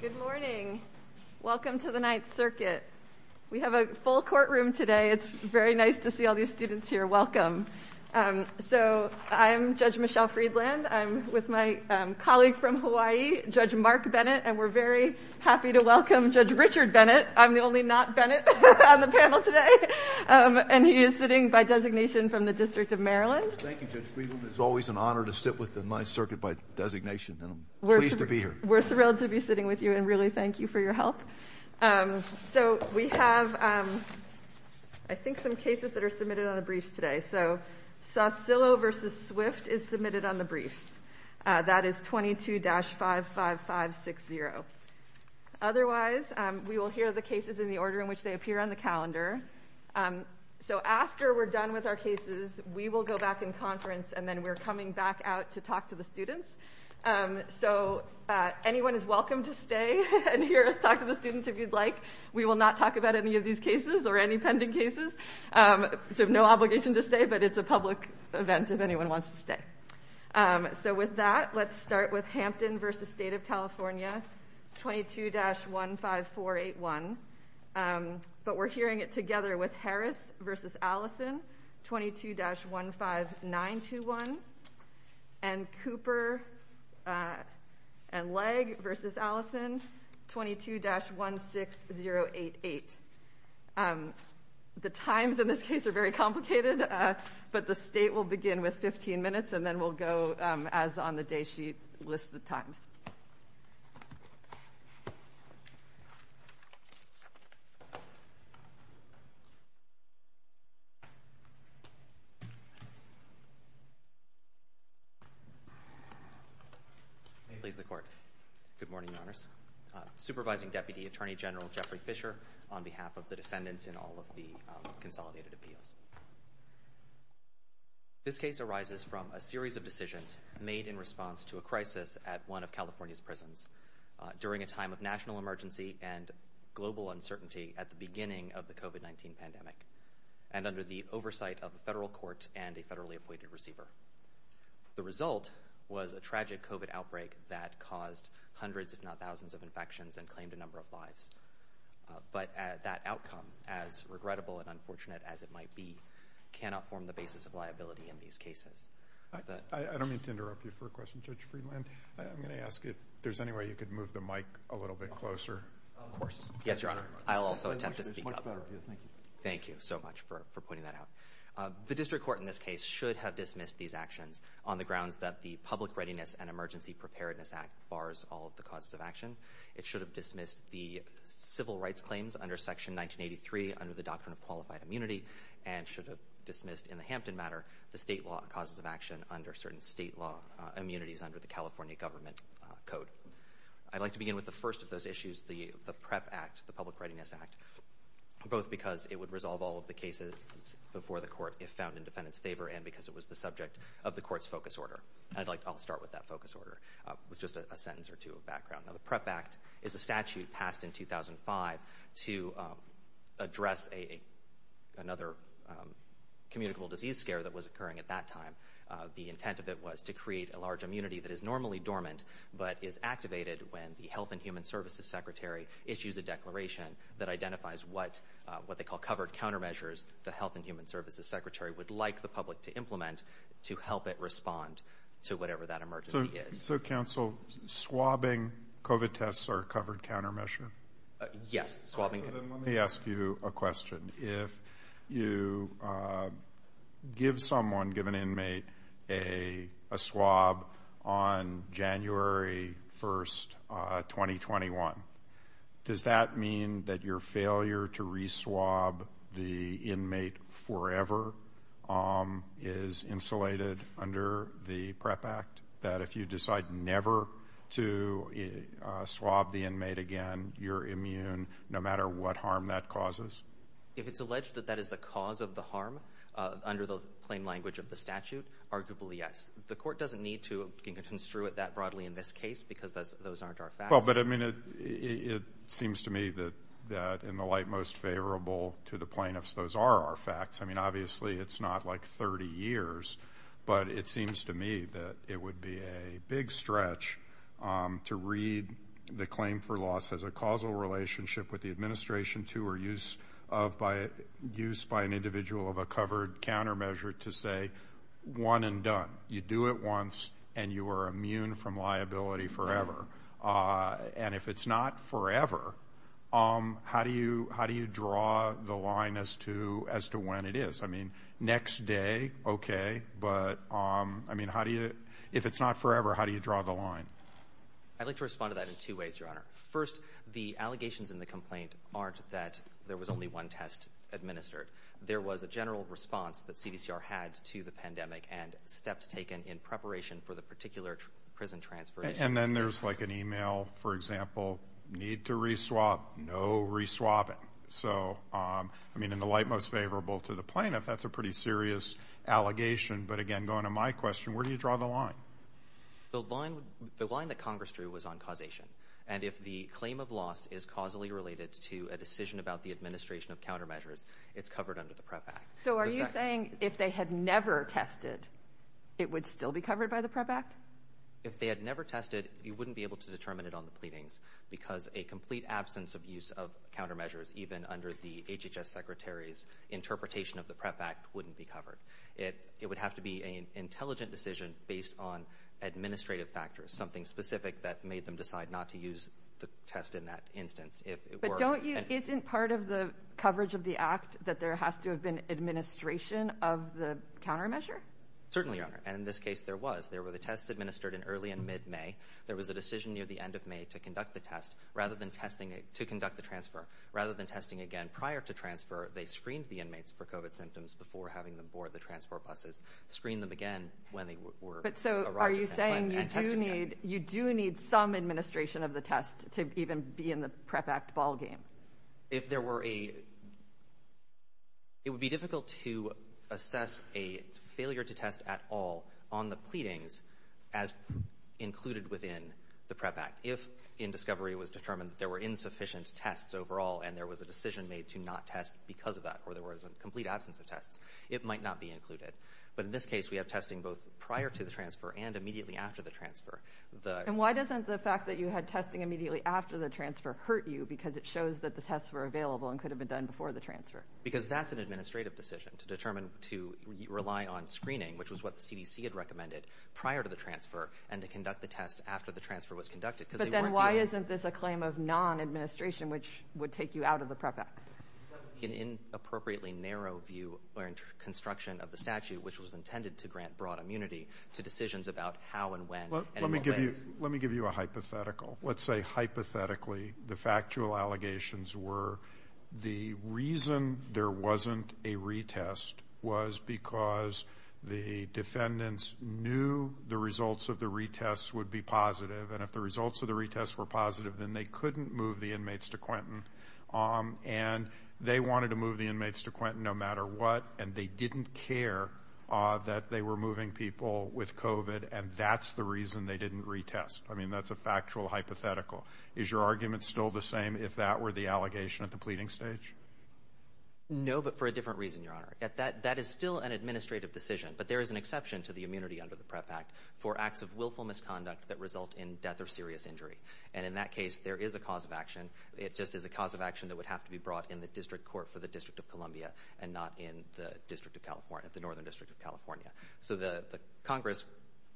Good morning. Welcome to the Ninth Circuit. We have a full courtroom today. It's very nice to see all these students here. Welcome. So I'm Judge Michelle Friedland. I'm with my colleague from Hawaii, Judge Mark Bennett, and we're very happy to welcome Judge Richard Bennett. I'm the only not Bennett on the panel today, and he is sitting by designation from the District of Maryland. Thank you, Judge Friedland. It's always an honor to sit with the Ninth Circuit by designation, and I'm pleased to be here. We're thrilled to be sitting with you, and really thank you for your help. So we have, I think, some cases that are submitted on the briefs today. So Sostillo v. Swift is submitted on the briefs. That is 22-55560. Otherwise, we will hear the cases in the order in which they appear on the calendar. So after we're done with our cases, we will go back in conference, and then we're coming back out to talk to the students. So anyone is welcome to stay and hear us talk to the students if you'd like. We will not talk about any of these cases or any pending cases. So no obligation to stay, but it's a public event if anyone wants to stay. So with that, let's start with Hampton v. State of California 22-15481, but we're hearing it together with Harris v. Allison 22-15921, and Cooper and Legg v. Allison 22-16088. The times in this case are very complicated, but the state will begin with 15 minutes, and then we'll go as on the day sheet, list the times. Please, the Court. Good morning, Your Honors. Supervising Deputy Attorney General Jeffrey Fisher on behalf of the defendants in all of the consolidated appeals. This case arises from a series of decisions made in response to a crisis at one of California's prisons during a time of national emergency and global uncertainty at the beginning of the COVID-19 pandemic, and under the oversight of the federal court and a federally appointed receiver. The result was a tragic COVID outbreak that caused hundreds, if not thousands, of infections and claimed a number of lives. But that outcome, as regrettable and unfortunate as it might be, cannot form the basis of liability in these cases. I don't mean to interrupt you for a question, Judge Friedland. I'm going to ask if there's any way you could move the Thank you so much for pointing that out. The district court in this case should have dismissed these actions on the grounds that the Public Readiness and Emergency Preparedness Act bars all of the causes of action. It should have dismissed the civil rights claims under Section 1983 under the doctrine of qualified immunity, and should have dismissed in the Hampton matter the state law causes of action under certain state law immunities under the California Government Code. I'd like to begin with the first of those issues, the PREP Act, the Public Readiness and Emergency Preparedness Act. It would resolve all of the cases before the court if found in defendant's favor, and because it was the subject of the court's focus order. I'd like to start with that focus order, with just a sentence or two of background. Now, the PREP Act is a statute passed in 2005 to address another communicable disease scare that was occurring at that time. The intent of it was to create a large immunity that is normally dormant, but is activated when the Health and Human Services Secretary issues a declaration that identifies what they call covered countermeasures the Health and Human Services Secretary would like the public to implement to help it respond to whatever that emergency is. So, counsel, swabbing COVID tests are a covered countermeasure? Yes. Let me ask you a question. If you give someone, give an inmate, a swab on January 1st, 2021, does that mean that your failure to re-swab the inmate forever is insulated under the PREP Act? That if you decide never to swab the inmate again, you're immune no matter what harm that causes? If it's alleged that that is the cause of the harm, under the plain language of the statute, arguably yes. The court doesn't need to construe it that broadly in this case, because those aren't our facts. It seems to me that in the light most favorable to the plaintiffs, those are our facts. Obviously, it's not like 30 years, but it seems to me that it would be a big stretch to read the claim for loss as a causal relationship with the administration to or use by an individual of a covered countermeasure to say, one and done. You do it once, and you are immune from liability forever. If it's not forever, how do you draw the line as to when it is? Next day, okay. If it's not forever, how do you draw the line? I'd like to respond to that in two ways, Your Honor. First, the allegations in the complaint aren't that there was only one test administered. There was a general response that CDCR had to the email, for example, need to re-swap, no re-swapping. In the light most favorable to the plaintiff, that's a pretty serious allegation. But again, going to my question, where do you draw the line? The line that Congress drew was on causation. If the claim of loss is causally related to a decision about the administration of countermeasures, it's covered under the PREP Act. Are you saying if they had never tested, it would still be covered by the PREP Act? If they had never tested, you wouldn't be able to determine it on the pleadings, because a complete absence of use of countermeasures, even under the HHS Secretary's interpretation of the PREP Act, wouldn't be covered. It would have to be an intelligent decision based on administrative factors, something specific that made them decide not to use the test in that instance. Isn't part of the coverage of the Act that there has to have been administration of the countermeasure? Certainly, Your Honor. In this case, there were the tests administered in early and mid-May. There was a decision near the end of May to conduct the transfer. Rather than testing again prior to transfer, they screened the inmates for COVID symptoms before having them board the transport buses, screened them again when they were arriving and tested again. Are you saying you do need some administration of the test to even be in the PREP Act ballgame? It would be difficult to assess a failure to test at all on the pleadings as included within the PREP Act. If in discovery it was determined there were insufficient tests overall and there was a decision made to not test because of that, or there was a complete absence of tests, it might not be included. But in this case, we have testing both prior to the transfer and immediately after the transfer. Why doesn't the fact that you had testing immediately after the transfer hurt you, because it shows that the tests were available and could have been done before the transfer? Because that's an administrative decision to determine to rely on screening, which was what the CDC had recommended prior to the transfer, and to conduct the test after the transfer was conducted. But then why isn't this a claim of non-administration, which would take you out of the PREP Act? That would be an inappropriately narrow view or construction of the statute, which was intended to grant broad immunity to decisions about how and when. Let me give you a hypothetical. Let's say hypothetically the factual allegations were the reason there wasn't a retest was because the defendants knew the results of the retest would be positive. And if the results of the retest were positive, then they couldn't move the inmates to Quentin. And they wanted to move the inmates to Quentin no matter what, and they didn't care that they were moving people with COVID. And that's the reason they didn't retest. I mean, that's a factual hypothetical. Is your argument still the allegation at the pleading stage? No, but for a different reason, Your Honor. That is still an administrative decision, but there is an exception to the immunity under the PREP Act for acts of willful misconduct that result in death or serious injury. And in that case, there is a cause of action. It just is a cause of action that would have to be brought in the district court for the District of Columbia and not in the District of California, the Northern District of California. So the Congress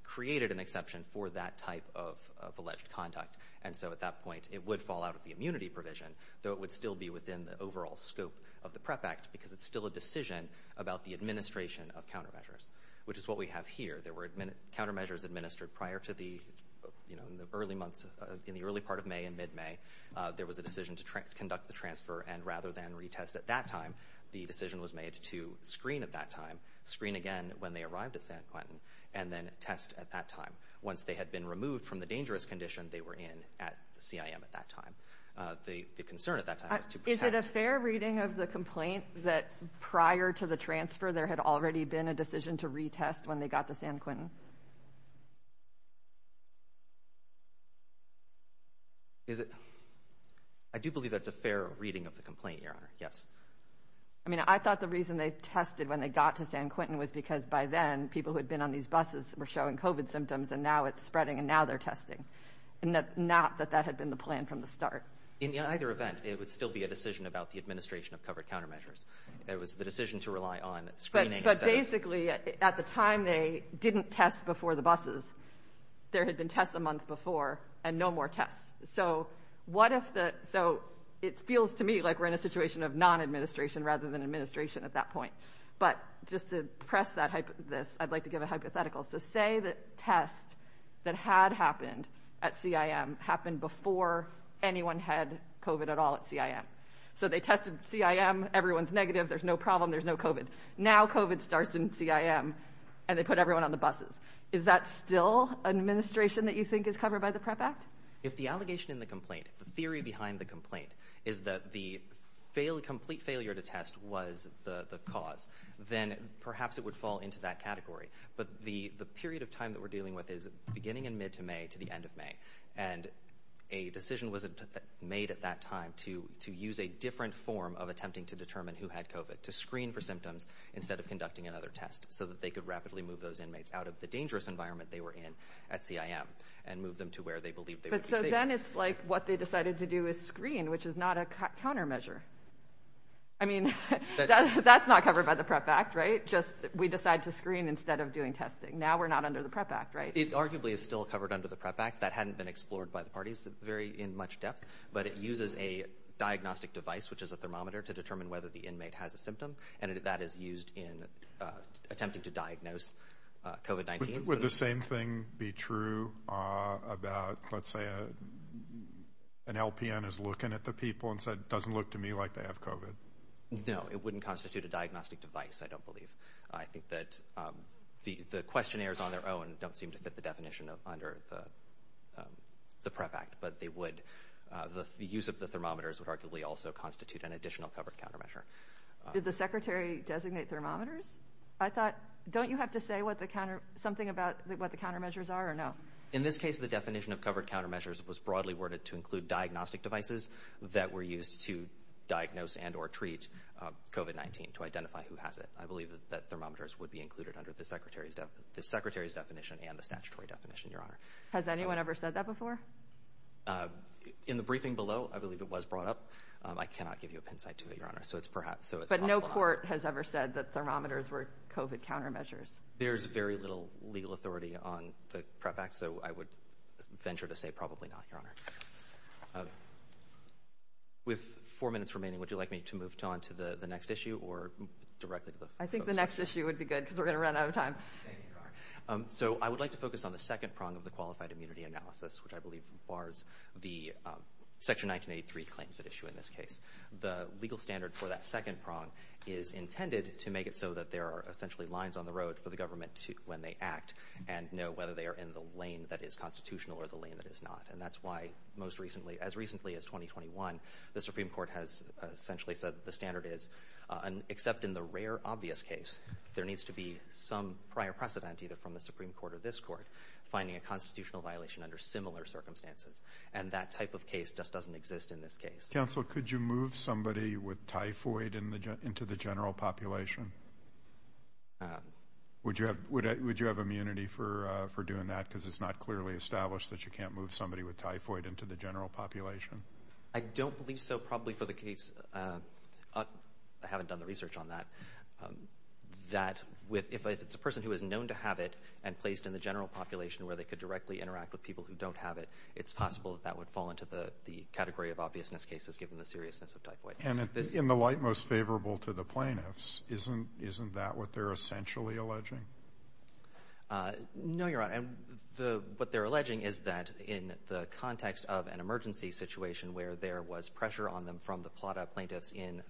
created an exception for that type of alleged conduct. And so at that point, it would fall out of the immunity provision, though it would still be within the overall scope of the PREP Act because it's still a decision about the administration of countermeasures, which is what we have here. There were countermeasures administered prior to the, you know, in the early months, in the early part of May and mid-May, there was a decision to conduct the transfer. And rather than retest at that time, the decision was made to screen at that time, screen again when they arrived at San Quentin, and then test at that time. Once they had been at that time, the concern at that time was to protect... Is it a fair reading of the complaint that prior to the transfer, there had already been a decision to retest when they got to San Quentin? Is it? I do believe that's a fair reading of the complaint, Your Honor. Yes. I mean, I thought the reason they tested when they got to San Quentin was because by then, people who had been on these buses were showing COVID symptoms, and now it's spreading, and now they're testing, and not that that had been the plan from the start. In either event, it would still be a decision about the administration of covered countermeasures. It was the decision to rely on screening... But basically, at the time they didn't test before the buses, there had been tests a month before and no more tests. So what if the... So it feels to me like we're in a situation of non-administration rather than administration at that point. But just to press this, I'd like to give a hypothetical. So say the test that had happened at CIM happened before anyone had COVID at all at CIM. So they tested CIM, everyone's negative, there's no problem, there's no COVID. Now COVID starts in CIM, and they put everyone on the buses. Is that still an administration that you think is covered by the PREP Act? If the allegation in the complaint, the theory behind the complaint is that the complete failure to test was the cause, then perhaps it would fall into that category. But the period of time that we're dealing with is beginning in mid to May to the end of May. And a decision was made at that time to use a different form of attempting to determine who had COVID, to screen for symptoms instead of conducting another test so that they could rapidly move those inmates out of the dangerous environment they were in at CIM and move them to where they believed they would be safe. But so then it's like what they decided to do is screen, which is not a countermeasure. I mean, that's not covered by the PREP Act, just we decide to screen instead of doing testing. Now we're not under the PREP Act, right? It arguably is still covered under the PREP Act. That hadn't been explored by the parties very in much depth, but it uses a diagnostic device, which is a thermometer to determine whether the inmate has a symptom. And that is used in attempting to diagnose COVID-19. Would the same thing be true about, let's say, an LPN is looking at the people and said, doesn't look to me like they have COVID? No, it wouldn't constitute a diagnostic device, I don't believe. I think that the questionnaires on their own don't seem to fit the definition of under the PREP Act, but they would, the use of the thermometers would arguably also constitute an additional covered countermeasure. Did the secretary designate thermometers? I thought, don't you have to say something about what the countermeasures are or no? In this case, the definition of covered countermeasures was broadly worded to include diagnostic devices that were used to diagnose and or treat COVID-19 to identify who has it. I believe that thermometers would be included under the secretary's definition and the statutory definition, your honor. Has anyone ever said that before? In the briefing below, I believe it was brought up. I cannot give you a pin site to it, your honor. But no court has ever said that thermometers were COVID countermeasures. There's very little legal authority on the PREP Act, so I would venture to say probably not, your honor. With four minutes remaining, would you like me to move on to the next issue or directly? I think the next issue would be good because we're going to run out of time. So I would like to focus on the second prong of the qualified immunity analysis, which I believe bars the section 1983 claims that issue in this case. The legal standard for that second prong is intended to make it so that there are essentially lines on the road for the government when they act and know whether they are in the lane that is constitutional or the lane that is not. And that's why most recently, as recently as 2021, the Supreme Court has essentially said that the standard is an except in the rare, obvious case, there needs to be some prior precedent either from the Supreme Court or this court finding a constitutional violation under similar circumstances. And that type of case just doesn't exist in this case. Counsel, could you move somebody with typhoid into the general population? Would you have would you have immunity for for doing that? Because it's not clearly established that you can't move somebody with typhoid into the general population. I don't believe so. Probably for the case. I haven't done the research on that. That with if it's a person who is known to have it and placed in the general population where they could directly interact with people who don't have it, it's possible that that would fall into the the category of obviousness cases given the seriousness of typhoid. And in the light most favorable to the plaintiffs, isn't isn't that what they're essentially alleging? Uh, no, you're right. And the what they're alleging is that in the context of an emergency situation where there was pressure on them from the plot of plaintiffs in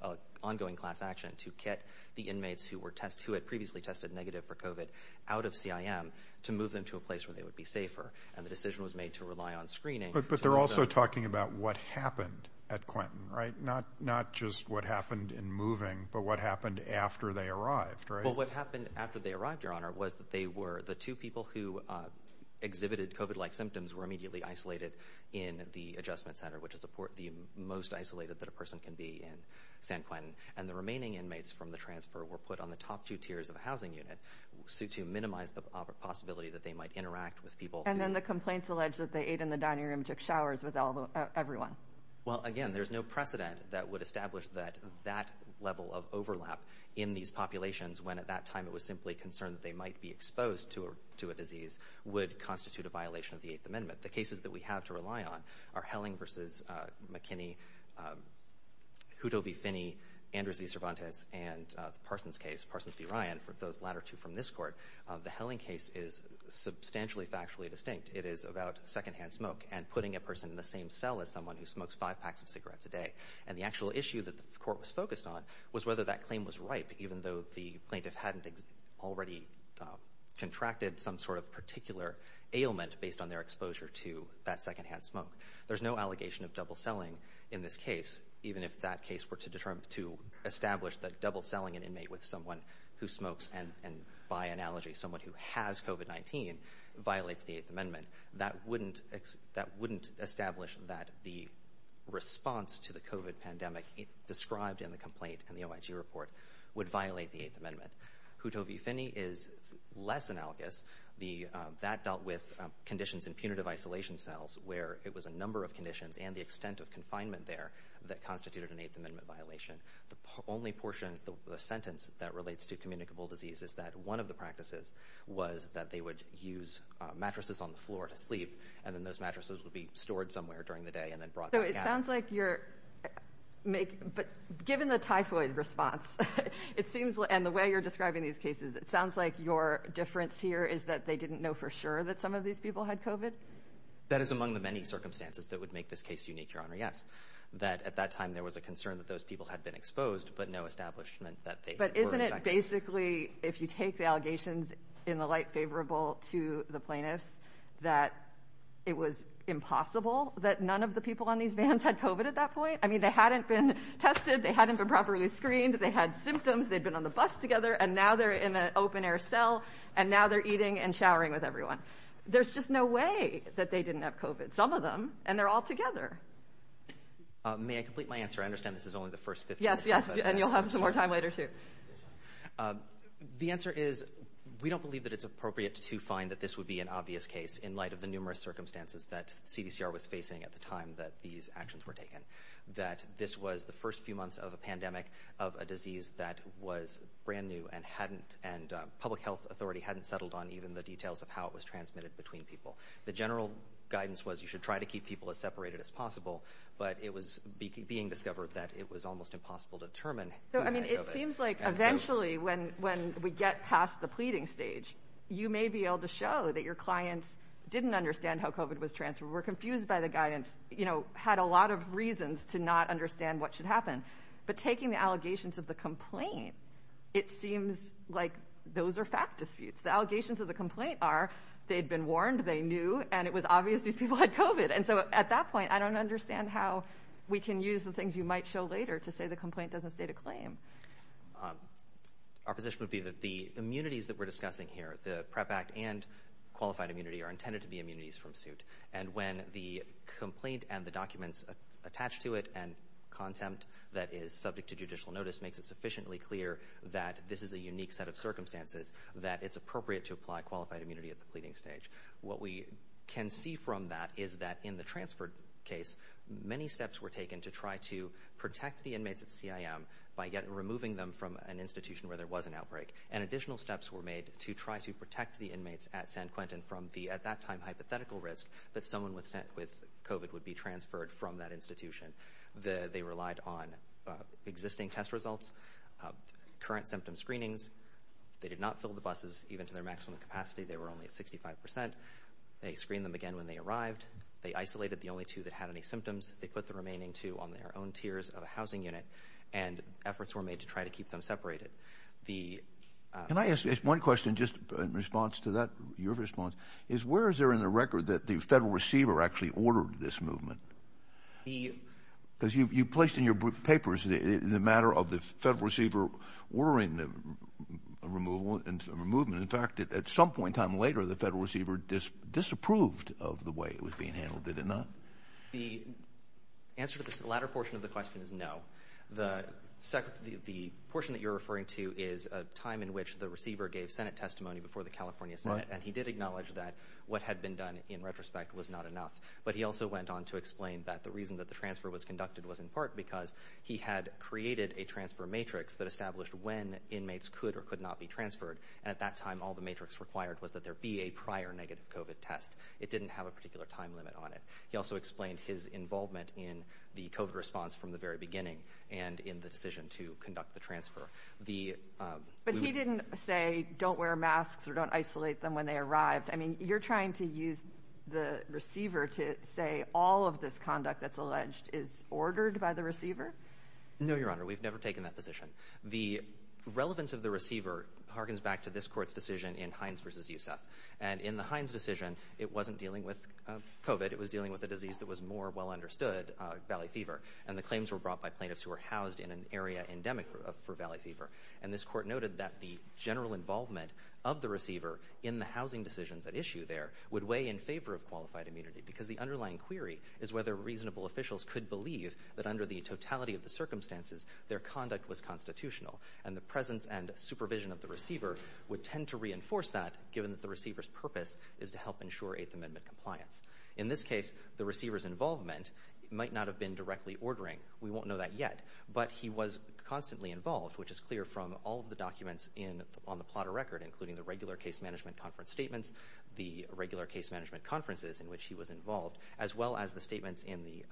ongoing class action to get the inmates who were test who had previously tested negative for covid out of C.I.M. to move them to a place where they would be safer. And the decision was made to rely on screening. But they're also talking about what happened at Quentin, right? Not not just what happened in moving, but what happened after they arrived, right? Happened after they arrived. Your honor was that they were the two people who exhibited covid like symptoms were immediately isolated in the adjustment center, which is the most isolated that a person can be in San Quentin. And the remaining inmates from the transfer were put on the top two tiers of the housing unit suit to minimize the possibility that they might interact with people. And then the complaints alleged that they ate in the dining room, took showers with everyone. Well, again, there's no precedent that would establish that that level of overlap in these it was simply concerned that they might be exposed to a to a disease would constitute a violation of the Eighth Amendment. The cases that we have to rely on are Helling versus McKinney, who Toby Finney, Andrews V. Cervantes and Parsons case Parsons v. Ryan. For those latter two from this court, the Helling case is substantially factually distinct. It is about secondhand smoke and putting a person in the same cell as someone who smokes five packs of cigarettes a day. And the actual issue that the court was focused on was whether that already contracted some sort of particular ailment based on their exposure to that secondhand smoke. There's no allegation of double selling in this case, even if that case were to determine to establish that double selling an inmate with someone who smokes and by analogy, someone who has COVID-19 violates the Eighth Amendment. That wouldn't that wouldn't establish that the response to the COVID pandemic described in the complaint and the OIG report would violate the Eighth Amendment. Who Toby Finney is less analogous. The that dealt with conditions in punitive isolation cells where it was a number of conditions and the extent of confinement there that constituted an Eighth Amendment violation. The only portion of the sentence that relates to communicable disease is that one of the practices was that they would use mattresses on the floor to sleep and then those mattresses would be stored somewhere during the sounds like you're making. But given the typhoid response, it seems and the way you're describing these cases, it sounds like your difference here is that they didn't know for sure that some of these people had COVID. That is among the many circumstances that would make this case unique, Your Honor. Yes, that at that time there was a concern that those people had been exposed, but no establishment that they but isn't it basically if you take the allegations in the favorable to the plaintiffs that it was impossible that none of the people on these vans had COVID at that point. I mean, they hadn't been tested. They hadn't been properly screened. They had symptoms. They've been on the bus together and now they're in an open air cell and now they're eating and showering with everyone. There's just no way that they didn't have COVID. Some of them and they're all together. May I complete my answer? I understand this is only the first 50. Yes. Yes. And you'll have some more time later too. The answer is we don't believe that it's appropriate to find that this would be an obvious case in light of the numerous circumstances that CDCR was facing at the time that these actions were taken that this was the first few months of a pandemic of a disease that was brand new and hadn't and public health authority hadn't settled on even the details of how it was transmitted between people. The general guidance was you should try to keep people as separated as possible, but it was being discovered that it was almost impossible to determine. So I mean, it seems like eventually when when we get past the pleading stage, you may be able to show that your clients didn't understand how COVID was transferred, were confused by the guidance, you know, had a lot of reasons to not understand what should happen. But taking the allegations of the complaint, it seems like those are fact disputes. The allegations of the complaint are they'd been warned, they knew, and it was obvious these people had COVID. And so at that point, I don't understand how we can use the things you might show later to the complaint doesn't state a claim. Our position would be that the immunities that we're discussing here, the PREP Act and qualified immunity are intended to be immunities from suit. And when the complaint and the documents attached to it and content that is subject to judicial notice makes it sufficiently clear that this is a unique set of circumstances that it's appropriate to apply qualified immunity at the pleading stage. What we can see from that is that in the transfer case, many steps were taken to try to protect the inmates at CIM by yet removing them from an institution where there was an outbreak. And additional steps were made to try to protect the inmates at San Quentin from the, at that time, hypothetical risk that someone with COVID would be transferred from that institution. They relied on existing test results, current symptom screenings. They did not fill the buses even to their maximum capacity. They were only at 65%. They screened them again when they arrived. They isolated the only two that had any symptoms. They put the remaining two on their own tiers of a housing unit and efforts were made to try to keep them separated. The... Can I ask one question just in response to that, your response, is where is there in the record that the federal receiver actually ordered this movement? Because you placed in your papers the matter of the federal receiver ordering the removal and the movement. In fact, at some point in time later, the federal receiver disapproved of the way it was being handled, did it not? The answer to this latter portion of the question is no. The portion that you're referring to is a time in which the receiver gave Senate testimony before the California Senate and he did acknowledge that what had been done in retrospect was not enough. But he also went on to explain that the reason that the transfer was conducted was in part because he had created a transfer matrix that established when inmates could or could not be transferred. At that time, all the matrix required was that there be a prior negative COVID test. It didn't have a particular time limit on it. He also explained his involvement in the COVID response from the very beginning and in the decision to conduct the transfer. But he didn't say don't wear masks or don't isolate them when they arrived. I mean, you're trying to use the receiver to say all of this position. The relevance of the receiver harkens back to this court's decision in Hines v. Yusuf. And in the Hines decision, it wasn't dealing with COVID. It was dealing with a disease that was more well understood, Valley Fever. And the claims were brought by plaintiffs who were housed in an area endemic for Valley Fever. And this court noted that the general involvement of the receiver in the housing decisions at issue there would weigh in favor of qualified immunity because the underlying query is whether reasonable officials could believe that under the totality of the circumstances, their conduct was constitutional. And the presence and supervision of the receiver would tend to reinforce that given that the receiver's purpose is to help ensure Eighth Amendment compliance. In this case, the receiver's involvement might not have been directly ordering. We won't know that yet, but he was constantly involved, which is clear from all of the documents on the plot of record, including the regular case management conference statements, the regular case management conferences in which he was involved, as well as the statements in the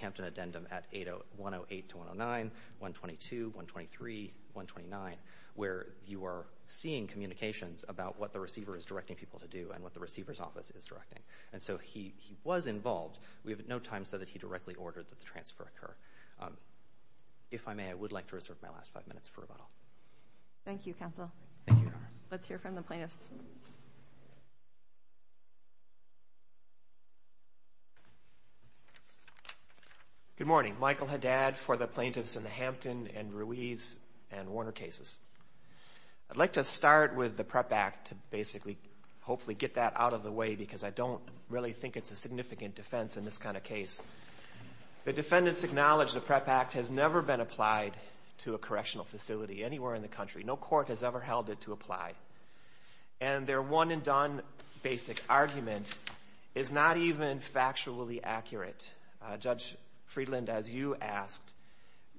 Hampton Addendum at 108-109, 122, 123, 129, where you are seeing communications about what the receiver is directing people to do and what the receiver's office is directing. And so he was involved. We have at no time said that he directly ordered that the transfer occur. If I may, I would like to reserve my last five minutes for rebuttal. Thank you, counsel. Let's hear from the plaintiffs. Good morning. Michael Haddad for the plaintiffs in the Hampton and Ruiz and Warner cases. I'd like to start with the PREP Act to basically hopefully get that out of the way because I don't really think it's a significant defense in this kind of case. The defendants acknowledge the PREP Act has never been applied to a correctional facility anywhere in the country. No court has ever held it to apply. And their one and done basic argument is not even factually accurate. Judge Friedland, as you asked,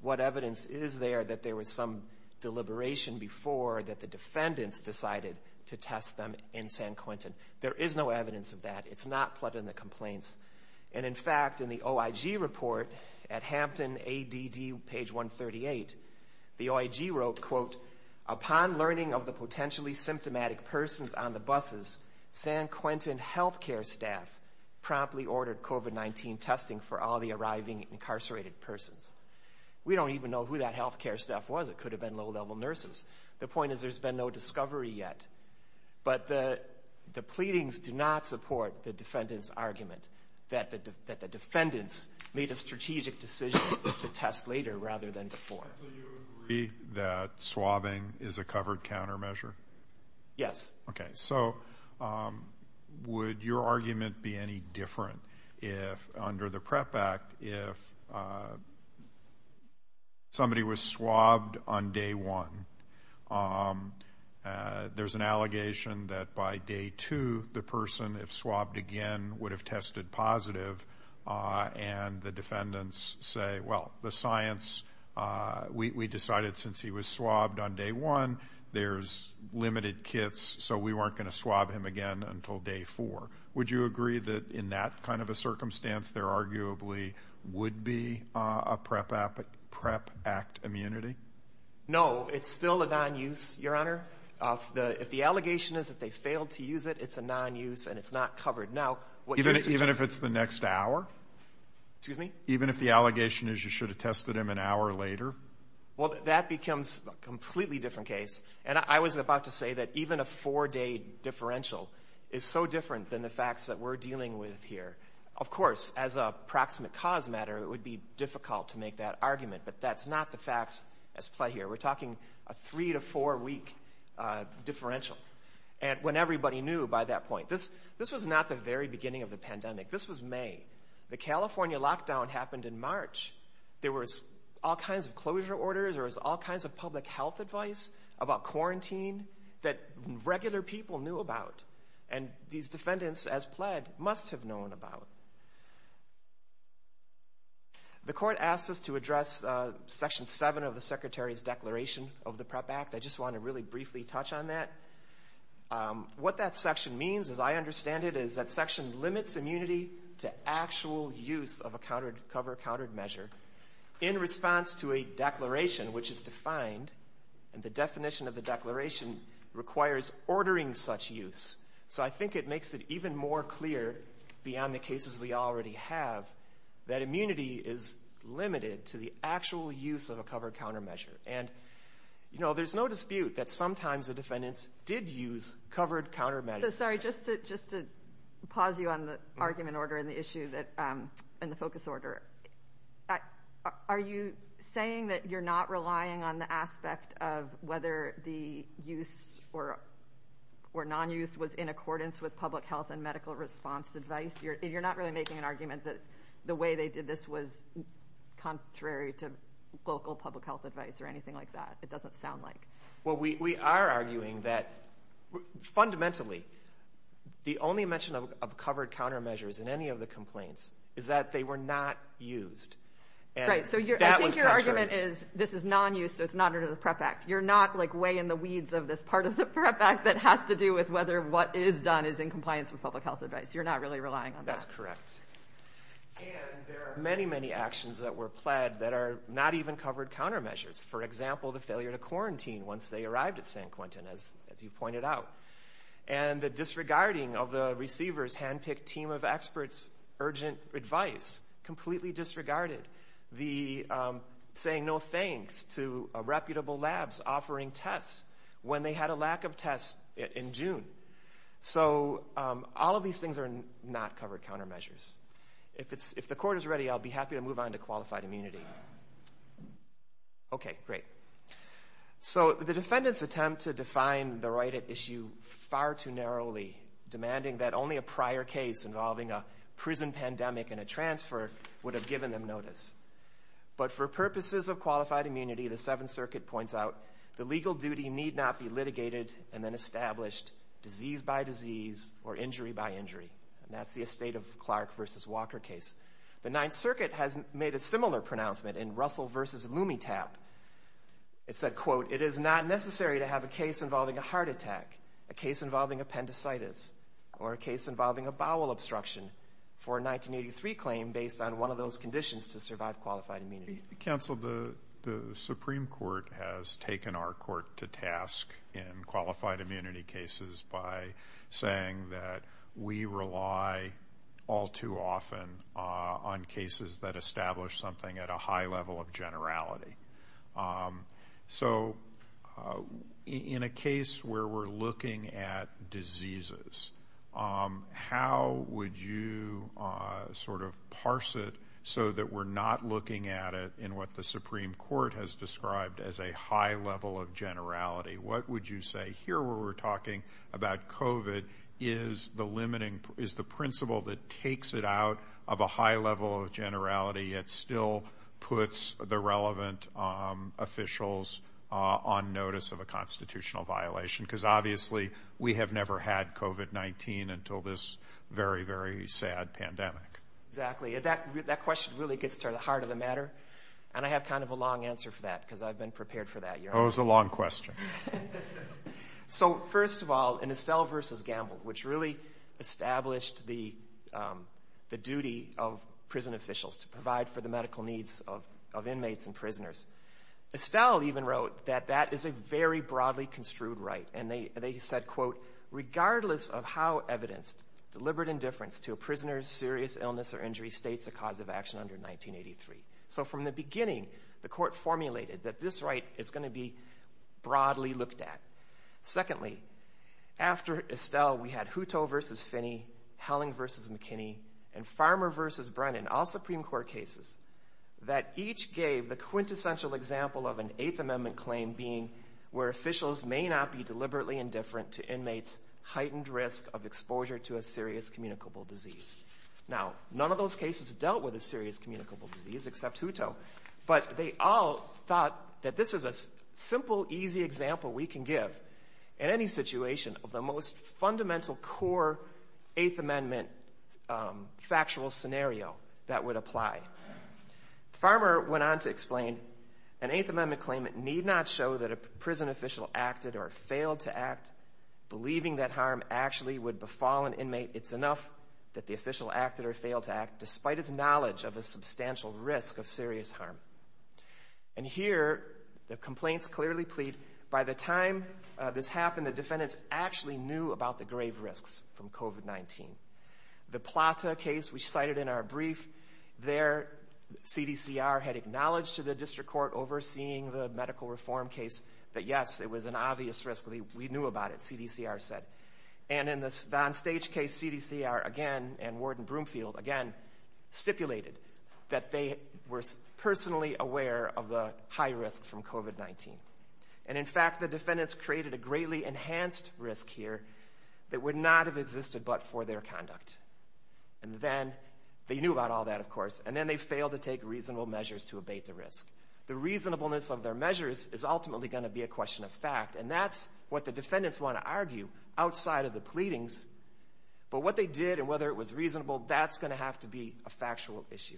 what evidence is there that there was some deliberation before that the defendants decided to test them in San Quentin? There is no evidence of that. It's not plugged in the complaints. And in fact, in the OIG report at Hampton ADD page 138, the OIG wrote, quote, upon learning of the potentially symptomatic persons on the buses, San Quentin health care staff promptly ordered COVID-19 testing for all the arriving incarcerated persons. We don't even know who that health care staff was. It could have been low level nurses. The point is, there's been no discovery yet. But the pleadings do not support the defendant's argument that the defendants made a strategic decision to test later rather than before. So you agree that swabbing is a covered countermeasure? Yes. Okay. So would your argument be any different if under the PREP Act, if somebody was swabbed on day one, there's an allegation that by day two, the person, if swabbed again, would have tested positive. And the defendants say, well, the science, we decided since he was swabbed on day one, there's limited kits. So we weren't going to swab him again until day four. Would you agree that in that kind of a circumstance, there arguably would be a PREP Act immunity? No, it's still a non-use, Your Honor. If the allegation is that they failed to use it, it's a non-use and it's not covered. Even if it's the next hour? Excuse me? Even if the allegation is you should have tested him an hour later? Well, that becomes a completely different case. And I was about to say that even a four-day differential is so different than the facts that we're dealing with here. Of course, as a proximate cause matter, it would be difficult to make that argument. But that's not the facts as play here. We're talking a three to four-week differential. And when everybody knew by that point, this was not the very beginning of the pandemic. This was May. The California lockdown happened in March. There was all kinds of closure orders. There was all kinds of public health advice about quarantine that regular people knew about. And these defendants, as pled, must have known about. The court asked us to address Section 7 of the Secretary's Declaration of the PREP Act. I just want to really briefly touch on that. What that section means, as I understand it, is that section limits immunity to actual use of a covered measure in response to a declaration, which is defined, and the definition of the declaration requires ordering such use. So I think it makes it even more clear, beyond the cases we already have, that immunity is limited to the actual use of a covered countermeasure. And there's no dispute that sometimes the defendants did use covered countermeasures. So sorry, just to pause you on the argument order and the focus order. But are you saying that you're not relying on the aspect of whether the use or non-use was in accordance with public health and medical response advice? You're not really making an argument that the way they did this was contrary to local public health advice or anything like that. It doesn't sound like. Well, we are arguing that fundamentally, the only mention of covered countermeasures in any of the complaints is that they were not used. Right. So I think your argument is this is non-use, so it's not under the PREP Act. You're not like way in the weeds of this part of the PREP Act that has to do with whether what is done is in compliance with public health advice. You're not really relying on that. That's correct. And there are many, many actions that were pled that are not even covered countermeasures. For example, the failure to quarantine once they arrived at San Quentin, as you pointed out. And the disregarding of the handpicked team of experts' urgent advice. Completely disregarded. The saying no thanks to reputable labs offering tests when they had a lack of tests in June. So all of these things are not covered countermeasures. If the court is ready, I'll be happy to move on to qualified immunity. Okay, great. So the defendants attempt to define the right at issue far too narrowly, demanding that only a prior case involving a prison pandemic and a transfer would have given them notice. But for purposes of qualified immunity, the Seventh Circuit points out the legal duty need not be litigated and then established disease by disease or injury by injury. And that's the Estate of Clark v. Walker case. The Ninth Circuit has made a similar pronouncement in Russell v. Lumetap. It said, quote, it is not necessary to have a case involving a heart attack, a case involving appendicitis, or a case involving a bowel obstruction for a 1983 claim based on one of those conditions to survive qualified immunity. Counsel, the Supreme Court has taken our court to task in qualified immunity cases by saying that we rely all too often on cases that establish something at a high level of generality. Um, so, uh, in a case where we're looking at diseases, um, how would you, uh, sort of parse it so that we're not looking at it in what the Supreme Court has described as a high level of generality? What would you say here where we're talking about COVID is the limiting is the officials on notice of a constitutional violation? Because obviously we have never had COVID-19 until this very, very sad pandemic. Exactly. That question really gets to the heart of the matter. And I have kind of a long answer for that because I've been prepared for that. Oh, it's a long question. So first of all, in Estelle v. Gamble, which really established the duty of prison officials to provide for the medical needs of inmates and prisoners, Estelle even wrote that that is a very broadly construed right. And they said, quote, regardless of how evidenced, deliberate indifference to a prisoner's serious illness or injury states a cause of action under 1983. So from the beginning, the court formulated that this right is going to be broadly looked at. Secondly, after Estelle, we had Hutto v. Finney, Helling v. McKinney, and Farmer v. Brennan, all Supreme Court cases, that each gave the quintessential example of an Eighth Amendment claim being where officials may not be deliberately indifferent to inmates' heightened risk of exposure to a serious communicable disease. Now, none of those cases dealt with a serious communicable disease except Hutto, but they all thought that this is a simple, easy example we can give in any situation of the most fundamental core Eighth Amendment factual scenario that would apply. Farmer went on to explain, an Eighth Amendment claim need not show that a prison official acted or failed to act believing that harm actually would befall an inmate. It's enough that the official acted or failed to act despite his knowledge of a substantial risk of serious harm. And here, the complaints clearly plead, by the time this happened, the defendants actually knew about the grave risks from COVID-19. The Plata case we cited in our brief, there, CDCR had acknowledged to the District Court overseeing the medical reform case that, yes, it was an obvious risk. We knew about it, CDCR said. And in the Don Stage case, CDCR, again, and Warden Broomfield, again, stipulated that they were personally aware of the high risk from COVID-19. And in fact, the defendants created a greatly enhanced risk here that would not have existed but for their conduct. And then, they knew about all that, of course, and then they failed to take reasonable measures to abate the risk. The reasonableness of their measures is ultimately going to be a question of fact. And that's what the defendants want to argue outside of the pleadings. But what they did and whether it was reasonable, that's going to have to be a factual issue.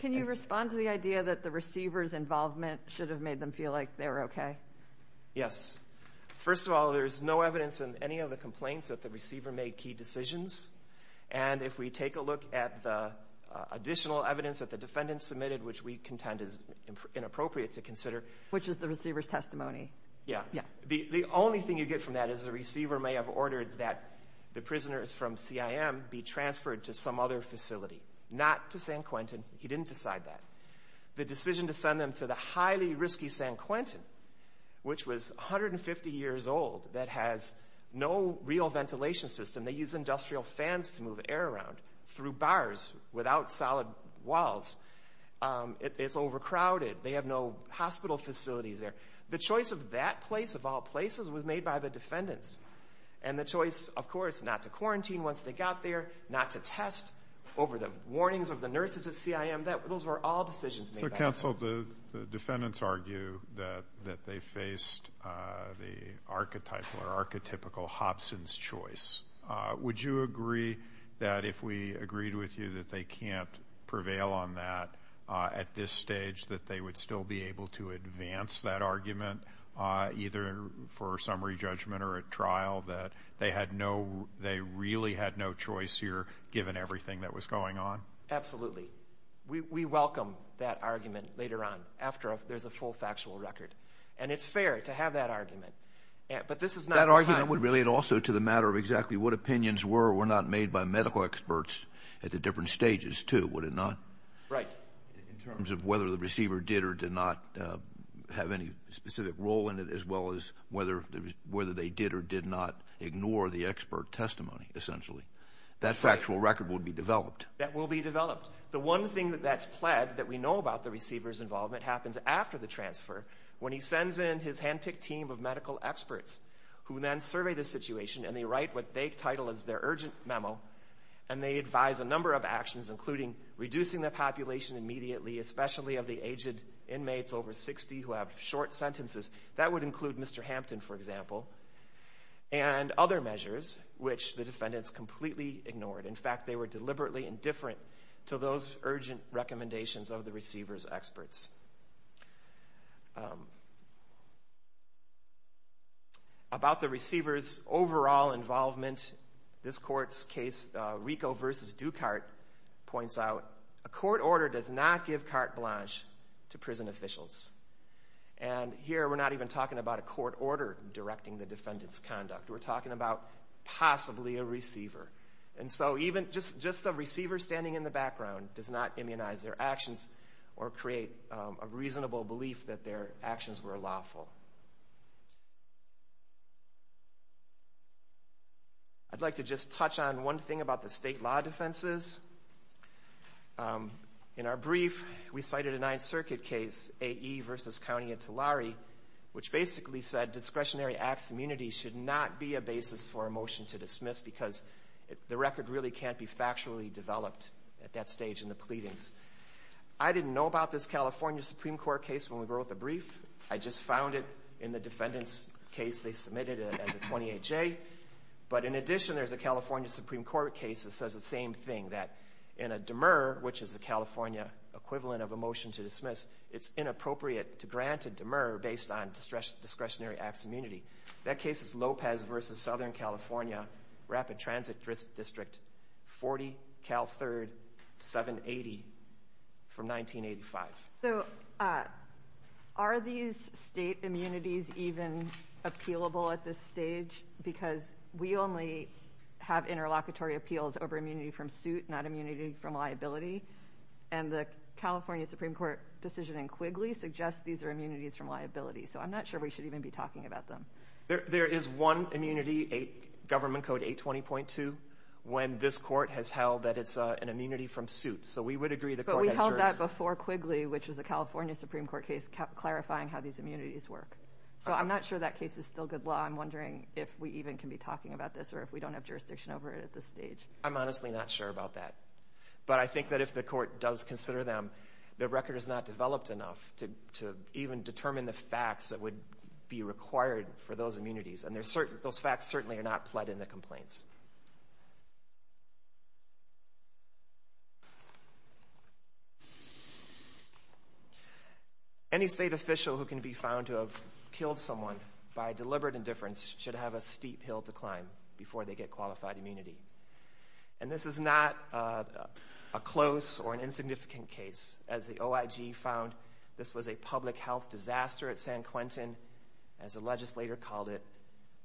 Can you respond to the idea that the receiver's involvement should have made them feel like they were okay? Yes. First of all, there's no evidence in any of the complaints that the receiver made key decisions. And if we take a look at the additional evidence that the defendants submitted, which we contend is inappropriate to consider. Which is the receiver's testimony? Yeah. The only thing you get from that is the receiver may have ordered that the prisoners from CIM be transferred to some other facility, not to San Quentin. He didn't decide that. The decision to send them to the highly risky San Quentin, which was 150 years old, that has no real ventilation system. They use industrial fans to move air around through bars without solid walls. It's overcrowded. They have no defendants. And the choice, of course, not to quarantine once they got there, not to test over the warnings of the nurses at CIM. Those were all decisions made by the prisoners. So counsel, the defendants argue that they faced the archetypal or archetypical Hobson's choice. Would you agree that if we agreed with you that they can't prevail on that at this stage, that they would still be that they really had no choice here, given everything that was going on? Absolutely. We welcome that argument later on, after there's a full factual record. And it's fair to have that argument. That argument would relate also to the matter of exactly what opinions were or were not made by medical experts at the different stages too, would it not? Right. In terms of whether the receiver did or did not have any specific role in it, as well as whether they did or did not ignore the expert testimony, essentially. That factual record would be developed. That will be developed. The one thing that's pled that we know about the receiver's involvement happens after the transfer, when he sends in his handpicked team of medical experts, who then survey the situation, and they write what they title as their urgent memo. And they advise a number of actions, including reducing the population immediately, especially of the aged inmates over 60 who have short sentences. That would include Mr. Hampton, for example. And other measures, which the defendants completely ignored. In fact, they were deliberately indifferent to those urgent recommendations of the receiver's experts. About the receiver's overall involvement, this court's case, Rico v. Ducart, points out, a court order does not give carte blanche to prison officials. And here we're not even talking about a court order directing the defendant's conduct. We're talking about possibly a receiver. And so even just a receiver standing in the background does not immunize their actions or create a reasonable belief that their actions were lawful. I'd like to just touch on one thing about the state law defenses. In our brief, we cited a Ninth Circuit case, A.E. v. County and Tulare, which basically said discretionary acts immunity should not be a basis for a motion to dismiss, because the record really can't be factually developed at that stage in the pleadings. I didn't know about this California Supreme Court case when we wrote the brief. I just found it in the defendant's case they submitted as a 28-J. But in addition, there's a California Supreme Court case that says the same thing, that in a demur, which is a California equivalent of a motion to dismiss, it's inappropriate to grant a demur based on discretionary acts immunity. That case is Lopez v. Southern California, Rapid Transit District, 40 Cal 3rd, 780, from 1985. So are these state immunities even appealable at this stage? Because we only have interlocutory appeals over immunity from suit, not immunity from liability. And the California Supreme Court decision in Quigley suggests these are immunities from liability. So I'm not sure we should even be talking about them. There is one immunity, Government Code 820.2, when this court has held that it's an immunity from suit. So we would agree the court has jurisdiction. But we held that before Quigley, which was a California Supreme Court case, clarifying how these immunities work. So I'm not sure that case is still good law. I'm wondering if we even can be talking about this or if we don't have jurisdiction over it at this stage. I'm honestly not sure about that. But I think that if the court does consider them, the record is not developed enough to even determine the facts that would be required for those immunities. And those facts certainly are not pled in the complaints. Any state official who can be found to have killed someone by deliberate indifference should have a steep hill to climb before they get qualified immunity. And this is not a close or an insignificant case. As the OIG found, this was a public health disaster at San Quentin. As a legislator called it,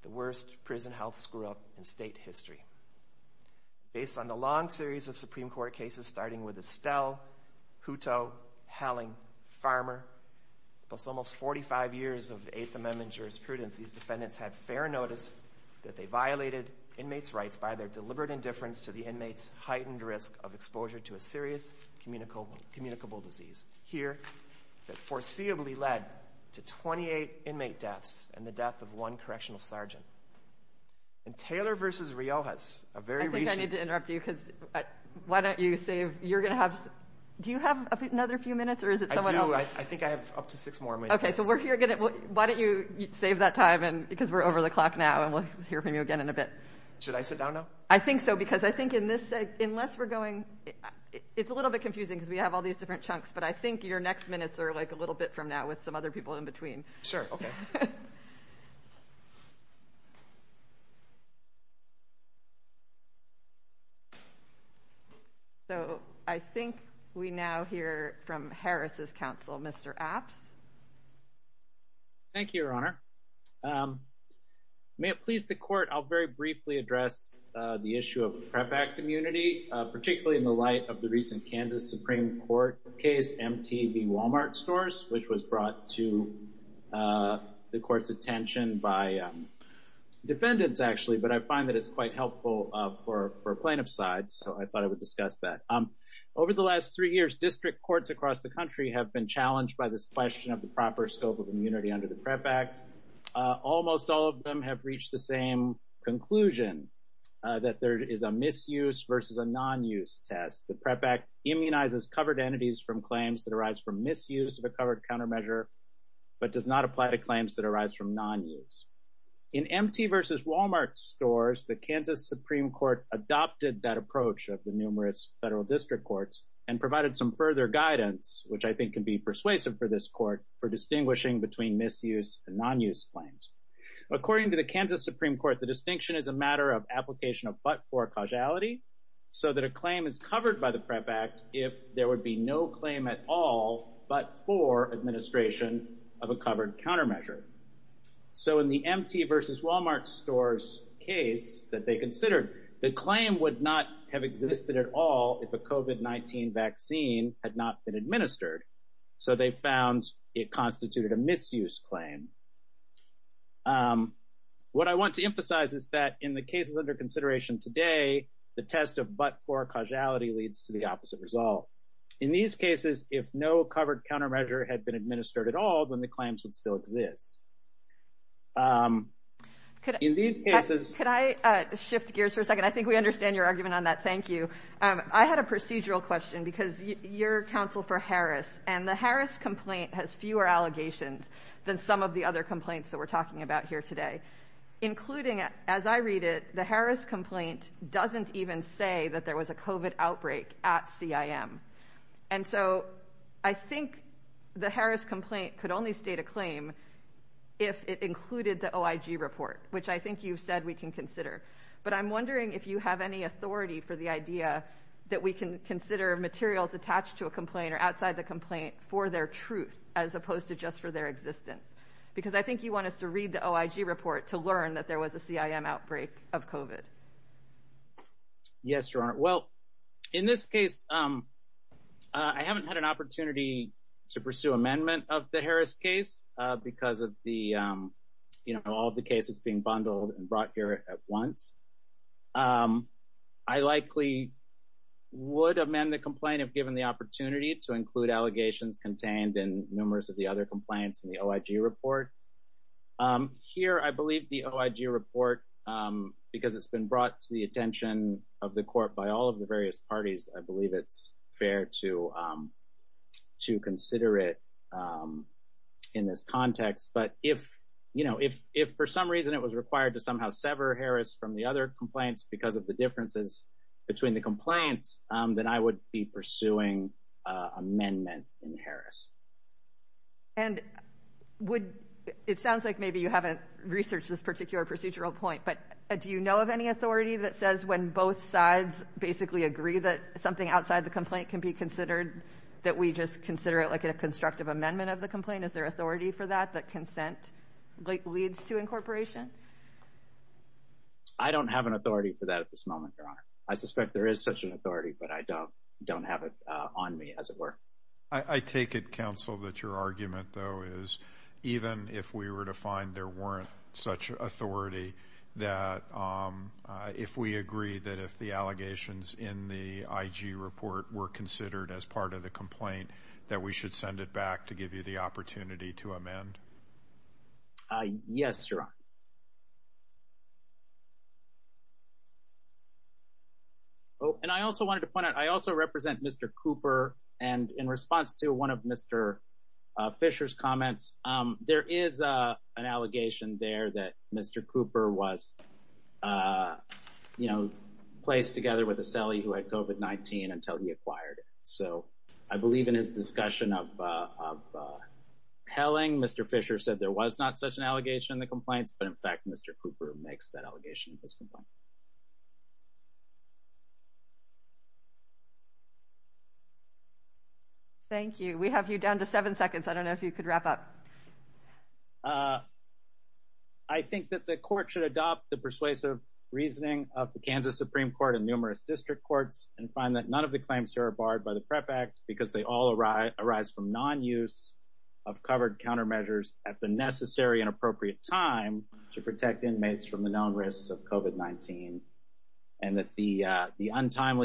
the worst prison health screw-up in state history. Based on the long series of Supreme Court cases, starting with Estelle, Hutto, Helling, Farmer, plus almost 45 years of Eighth Amendment jurisprudence, these defendants had fair notice that they violated inmates' rights by their deliberate indifference to the inmates' heightened risk of exposure to a serious communicable disease. Here, that foreseeably led to 28 inmate deaths and the death of one correctional sergeant. And Taylor v. Riojas, a very recent... I think I need to interrupt you because why don't you save, you're going to have, do you have another few minutes or is it someone else? I do, I think I have up to six more minutes. Okay, so we're here, why don't you save that time because we're over the clock now and we'll hear from you again in a bit. Should I sit down now? I think so because I think in this, unless we're going, it's a little bit confusing because we have all these different chunks, but I think your next minutes are like a little bit from now with some other people in between. Okay. So I think we now hear from Harris's counsel, Mr. Apps. Thank you, Your Honor. May it please the court, I'll very briefly address the issue of PrEP Act immunity, particularly in the light of the recent Kansas Supreme Court case, MTV Walmart stores, which was brought to the court's attention by defendants actually, but I find that it's quite helpful for plaintiff's side, so I thought I would discuss that. Over the last three years, district courts across the country have been challenged by this question of the proper scope of immunity under the PrEP Act. Almost all of them have reached the same conclusion that there is a misuse versus a non-use test. The PrEP Act immunizes covered entities from misuse of a covered countermeasure, but does not apply to claims that arise from non-use. In MT versus Walmart stores, the Kansas Supreme Court adopted that approach of the numerous federal district courts and provided some further guidance, which I think can be persuasive for this court for distinguishing between misuse and non-use claims. According to the Kansas Supreme Court, the distinction is a matter of application of but-for causality, so that a claim is covered by the PrEP Act if there would be no claim at all but-for administration of a covered countermeasure. So in the MT versus Walmart stores case that they considered, the claim would not have existed at all if a COVID-19 vaccine had not been administered, so they found it constituted a misuse claim. What I want to emphasize is that in the cases under consideration today, the test of but-for causality leads to the opposite result. In these cases, if no covered countermeasure had been administered at all, then the claims would still exist. Could I shift gears for a second? I think we understand your argument on that. Thank you. I had a procedural question because you're counsel for Harris, and the Harris complaint has fewer allegations than some of the other complaints that we're talking about here today, including, as I read it, the Harris complaint doesn't even say that there was a COVID outbreak at CIM, and so I think the Harris complaint could only state a claim if it included the OIG report, which I think you've said we can consider, but I'm wondering if you have any authority for the idea that we can consider materials attached to a complaint or outside the complaint for their existence, because I think you want us to read the OIG report to learn that there was a CIM outbreak of COVID. Yes, Your Honor. Well, in this case, I haven't had an opportunity to pursue amendment of the Harris case because of the, you know, all the cases being bundled and brought here at once. I likely would amend the complaint if given the opportunity to include allegations contained in numerous of the other complaints in the OIG report. Here, I believe the OIG report, because it's been brought to the attention of the court by all of the various parties, I believe it's fair to consider it in this context, but if, you know, if for some reason it was required to somehow sever Harris from the other complaints because of the differences between the complaints, then I would be pursuing amendment in Harris. And would, it sounds like maybe you haven't researched this particular procedural point, but do you know of any authority that says when both sides basically agree that something outside the complaint can be considered, that we just consider it like a constructive amendment of the complaint? Is there authority for that, that consent leads to incorporation? I don't have an authority for that at this moment, Your Honor. I suspect there is such an authority, but I don't have it on me, as it were. I take it, counsel, that your argument, though, is even if we were to find there weren't such authority, that if we agree that if the allegations in the IG report were considered as part of the complaint, that we should send it back to give you the opportunity to amend? Yes, Your Honor. Oh, and I also wanted to point out, I also represent Mr. Cooper, and in response to one of Mr. Fisher's comments, there is an allegation there that Mr. Cooper was, you know, placed together with a celly who had COVID-19 until he acquired it. So I believe in his discussion of helling, Mr. Fisher said there was not such an allegation in the complaints, but in fact Mr. Cooper makes that allegation in this complaint. Thank you. We have you down to seven seconds. I don't know if you could wrap up. I think that the court should adopt the persuasive reasoning of the Kansas Supreme Court and numerous district courts and find that none of the claims here are barred by the PREP Act because they all arise from non-use of covered countermeasures at the necessary and timely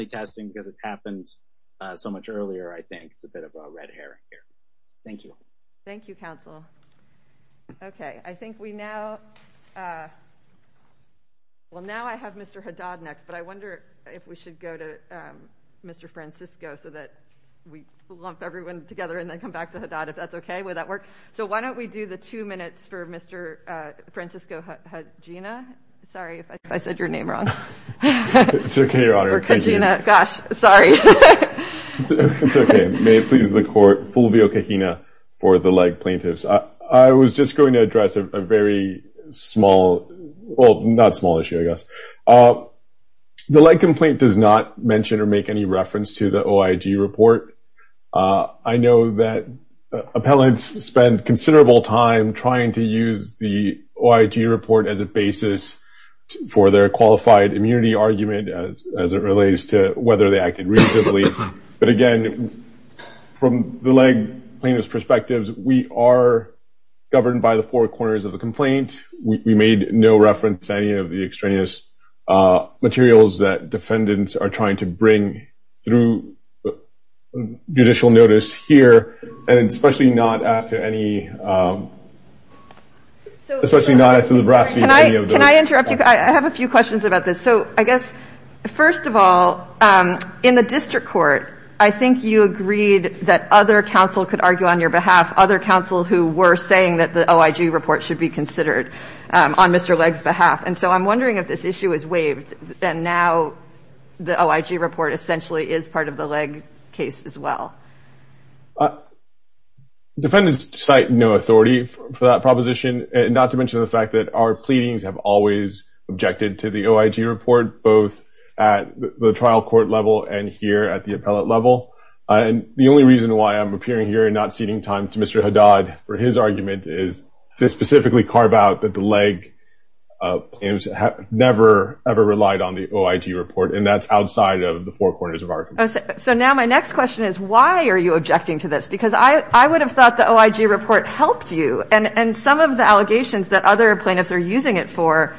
testing because it happened so much earlier, I think. It's a bit of a red herring here. Thank you. Thank you, counsel. Okay, I think we now, well now I have Mr. Haddad next, but I wonder if we should go to Mr. Francisco so that we lump everyone together and then come back to Haddad, if that's okay? Would that work? So why don't we do the two minutes for Mr. Francisco Kajina? Sorry if I said your name wrong. It's okay, Your Honor. Thank you. Gosh, sorry. It's okay. May it please the court, Fulvio Kajina for the leg plaintiffs. I was just going to address a very small, well not small issue, I guess. The leg complaint does not mention or make any reference to the OIG report. I know that appellants spend considerable time trying to use the OIG report as a basis for their qualified immunity argument as it relates to whether they acted reasonably. But again, from the leg plaintiff's perspectives, we are governed by the four corners of the complaint. We made no reference to any of the extraneous materials that defendants are trying to bring through judicial notice here, and especially not as to any of the... Can I interrupt you? I have a few questions about this. So I guess, first of all, in the district court, I think you agreed that other counsel could argue on your behalf, other counsel who were saying that the OIG report should be considered on Mr. Legg's behalf. And so I'm wondering if this issue is waived, and now the OIG report essentially is part of the Legg case as well. Defendants cite no authority for that proposition, not to mention the fact that our pleadings have always objected to the OIG report, both at the trial court level and here at the appellate level. And the only reason why I'm appearing here and not ceding time to Mr. Haddad for his argument is to specifically carve out that the Legg never ever relied on the OIG report, and that's outside of the four corners of our... So now my next question is, why are you objecting to this? Because I would have thought the OIG report helped you, and some of the allegations that other plaintiffs are using it for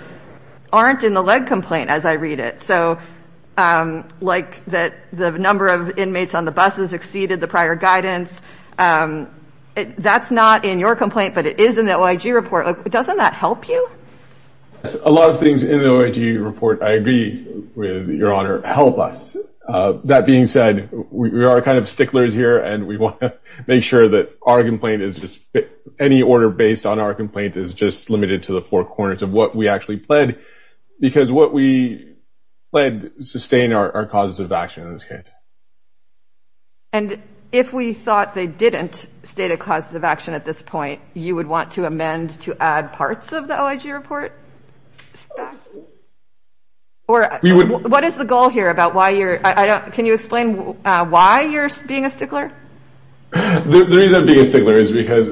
aren't in the Legg complaint, as I read it. So like that the number of inmates on the buses exceeded the prior guidance, that's not in your complaint, but it is in the OIG report. Doesn't that help you? A lot of things in the OIG report, I agree with your honor, help us. That being said, we are kind of sticklers here, and we want to make sure that our complaint is just... Any order based on our complaint is just limited to the four corners of what we actually pledged, because what we pledged sustained our causes of action in this case. And if we thought they didn't state a cause of action at this point, you would want to amend to add parts of the OIG report? Or what is the goal here about why you're... Can you explain why you're being a stickler? The reason I'm being a stickler is because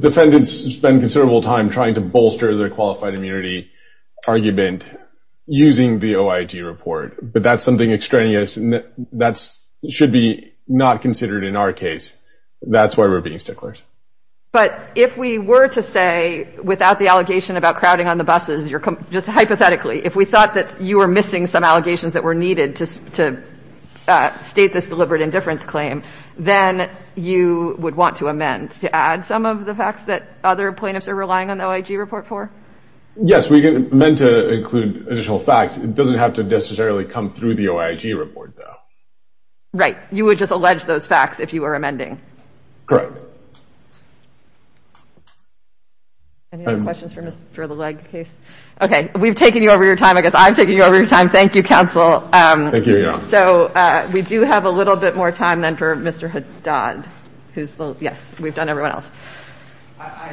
defendants spend considerable time trying to bolster their qualified immunity argument using the OIG report, but that's something extraneous, and that should be not considered in our case. That's why we're being sticklers. But if we were to say, without the allegation about crowding on the buses, you're... Just hypothetically, if we thought that you were missing some allegations that were needed to state this deliberate indifference claim, then you would want to amend to add some of the facts that other plaintiffs are relying on the OIG report for? Yes, we meant to include additional facts. It doesn't have to necessarily come through the OIG report, though. Right. You would just have to... Any other questions for the Legg case? Okay, we've taken you over your time. I guess I'm taking you over your time. Thank you, counsel. Thank you, yeah. So we do have a little bit more time then for Mr. Haddad, who's the... Yes, we've done everyone else. I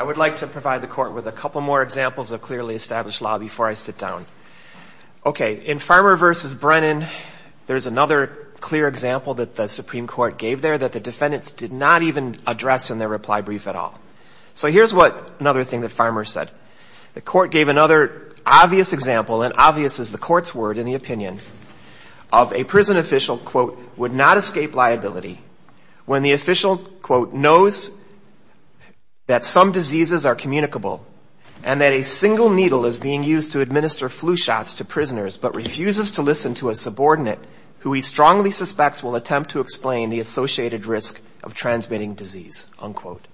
would like to provide the court with a couple more examples of clearly established law before I sit down. Okay, in Farmer v. Brennan, there's another clear example that the Supreme Court gave there, that the defendants did not even address in their reply brief at all. So here's what... Another thing that Farmer said. The court gave another obvious example, and obvious is the court's word in the opinion, of a prison official, quote, would not escape liability when the official, quote, knows that some diseases are communicable, and that a single needle is being used to administer flu shots to prisoners, but refuses to listen to a subordinate who he strongly suspects will attempt to explain the associated risk of transmitting disease, unquote.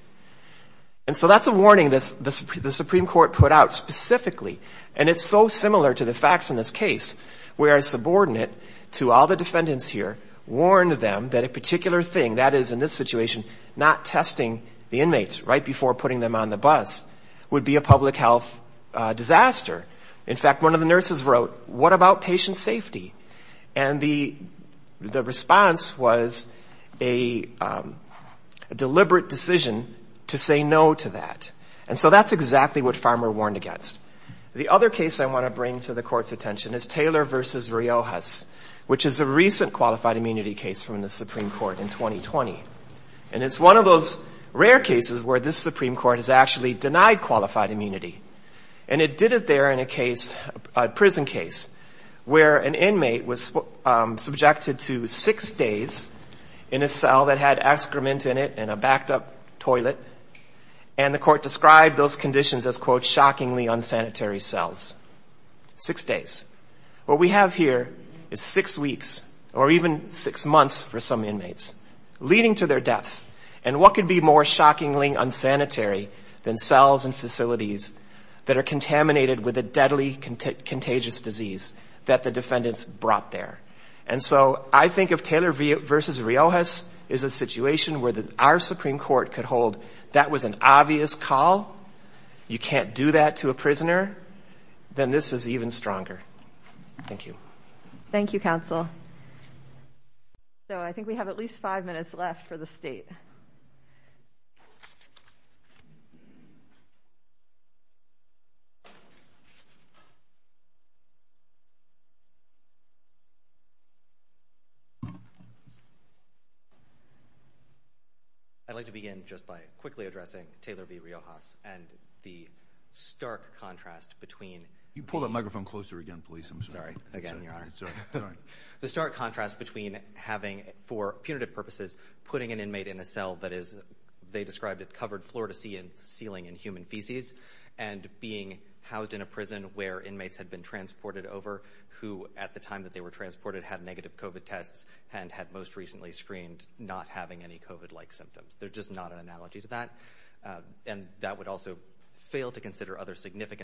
And so that's a warning the Supreme Court put out specifically, and it's so similar to the facts in this case, where a subordinate to all the defendants here warned them that a particular thing, that is, in this situation, not testing the inmates right before putting them on the bus would be a public health disaster. In fact, one of the nurses wrote, what about patient safety? And the response was a deliberate decision to say no to that. And so that's exactly what Farmer warned against. The other case I want to bring to the court's attention is Taylor versus Riojas, which is a recent qualified immunity case from the Supreme Court in 2020. And it's one of those rare cases where this Supreme Court has actually denied qualified immunity. And it did it there in a prison case where an inmate was subjected to six days in a cell that had excrement in it and a backed up toilet. And the court described those conditions as, quote, shockingly unsanitary cells. Six days. What we have here is six weeks, or even six months for some inmates, leading to their deaths. And what could be more shockingly unsanitary than cells and facilities that are contaminated with a deadly contagious disease that the defendants brought there? And so I think if Taylor versus Riojas is a situation where our Supreme Court could hold that was an obvious call, you can't do that to a prisoner, then this is even stronger. Thank you. Thank you, counsel. So I think we have at least five minutes left for the state. I'd like to begin just by quickly addressing Taylor v. Riojas and the stark contrast between stark contrast between having, for punitive purposes, putting an inmate in a cell that is, they described it covered floor to ceiling in human feces and being housed in a prison where inmates had been transported over who, at the time that they were transported, had negative COVID tests and had most recently screened not having any COVID-like symptoms. They're just not an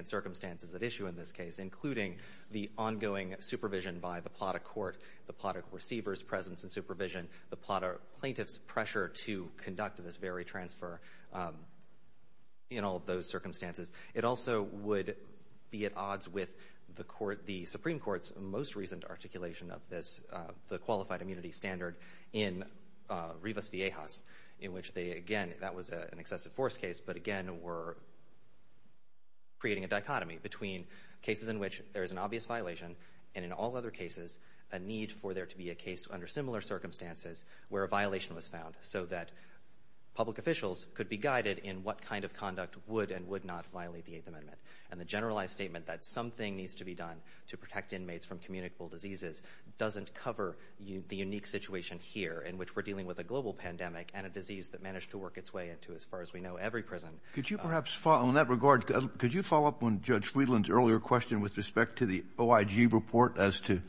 circumstances at issue in this case, including the ongoing supervision by the Plata court, the Plata receiver's presence and supervision, the Plata plaintiff's pressure to conduct this very transfer in all of those circumstances. It also would be at odds with the Supreme Court's most recent articulation of this, the qualified immunity standard in Riojas v. Riojas, in which again, that was an excessive force case, but again, we're creating a dichotomy between cases in which there is an obvious violation and in all other cases, a need for there to be a case under similar circumstances where a violation was found so that public officials could be guided in what kind of conduct would and would not violate the eighth amendment. And the generalized statement that something needs to be done to protect inmates from communicable diseases doesn't cover the situation here in which we're dealing with a global pandemic and a disease that managed to work its way into, as far as we know, every prison. Could you perhaps follow on that regard? Could you follow up on Judge Friedland's earlier question with respect to the OIG report as to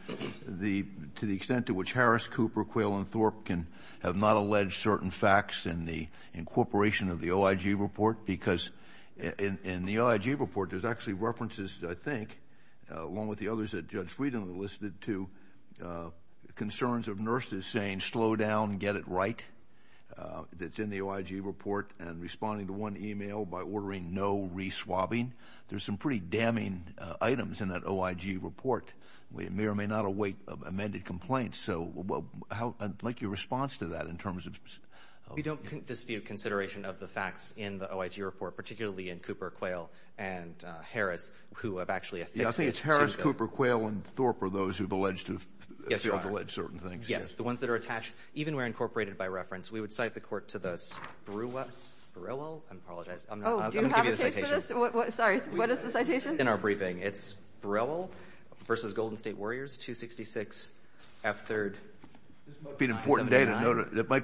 the, to the extent to which Harris, Cooper, Quayle, and Thorpe can have not alleged certain facts in the incorporation of the OIG report? Because in the OIG report, there's actually I think, along with the others that Judge Friedland listed too, concerns of nurses saying, slow down, get it right. That's in the OIG report and responding to one email by ordering no re-swabbing. There's some pretty damning items in that OIG report. We may or may not await amended complaints. So how, I'd like your response to that in terms of We don't dispute consideration of the facts in the OIG report, particularly in Cooper, Quayle, and Harris, who have actually affixed it. Yeah, I think it's Harris, Cooper, Quayle, and Thorpe are those who've alleged certain things. Yes, the ones that are attached, even where incorporated by reference. We would cite the court to the Sprewell, I apologize. I'm going to give you the citation. Sorry, what is the citation? In our briefing, it's Sprewell versus Golden State Warriors, 266 F3rd. It might be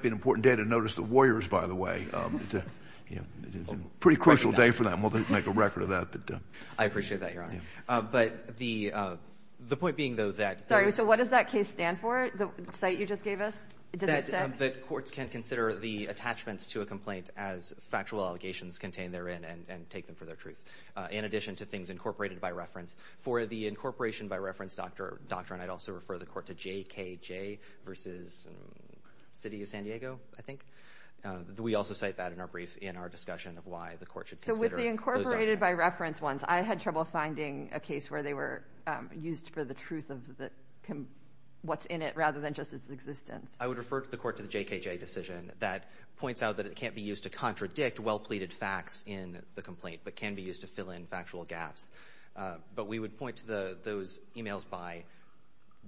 an important day to notice the Warriors, by the way. Yeah, it's a pretty crucial day for them. We'll make a record of that. I appreciate that, Your Honor. But the point being, though, that Sorry, so what does that case stand for? The cite you just gave us? That courts can consider the attachments to a complaint as factual allegations contained therein and take them for their truth, in addition to things incorporated by reference. For the incorporation by reference doctrine, I'd also refer the court to JKJ versus City of San Diego, I think. We also cite that in our brief in our discussion of why the court should consider With the incorporated by reference ones, I had trouble finding a case where they were used for the truth of what's in it, rather than just its existence. I would refer the court to the JKJ decision that points out that it can't be used to contradict well-pleaded facts in the complaint, but can be used to fill in factual gaps. But we would point to those emails by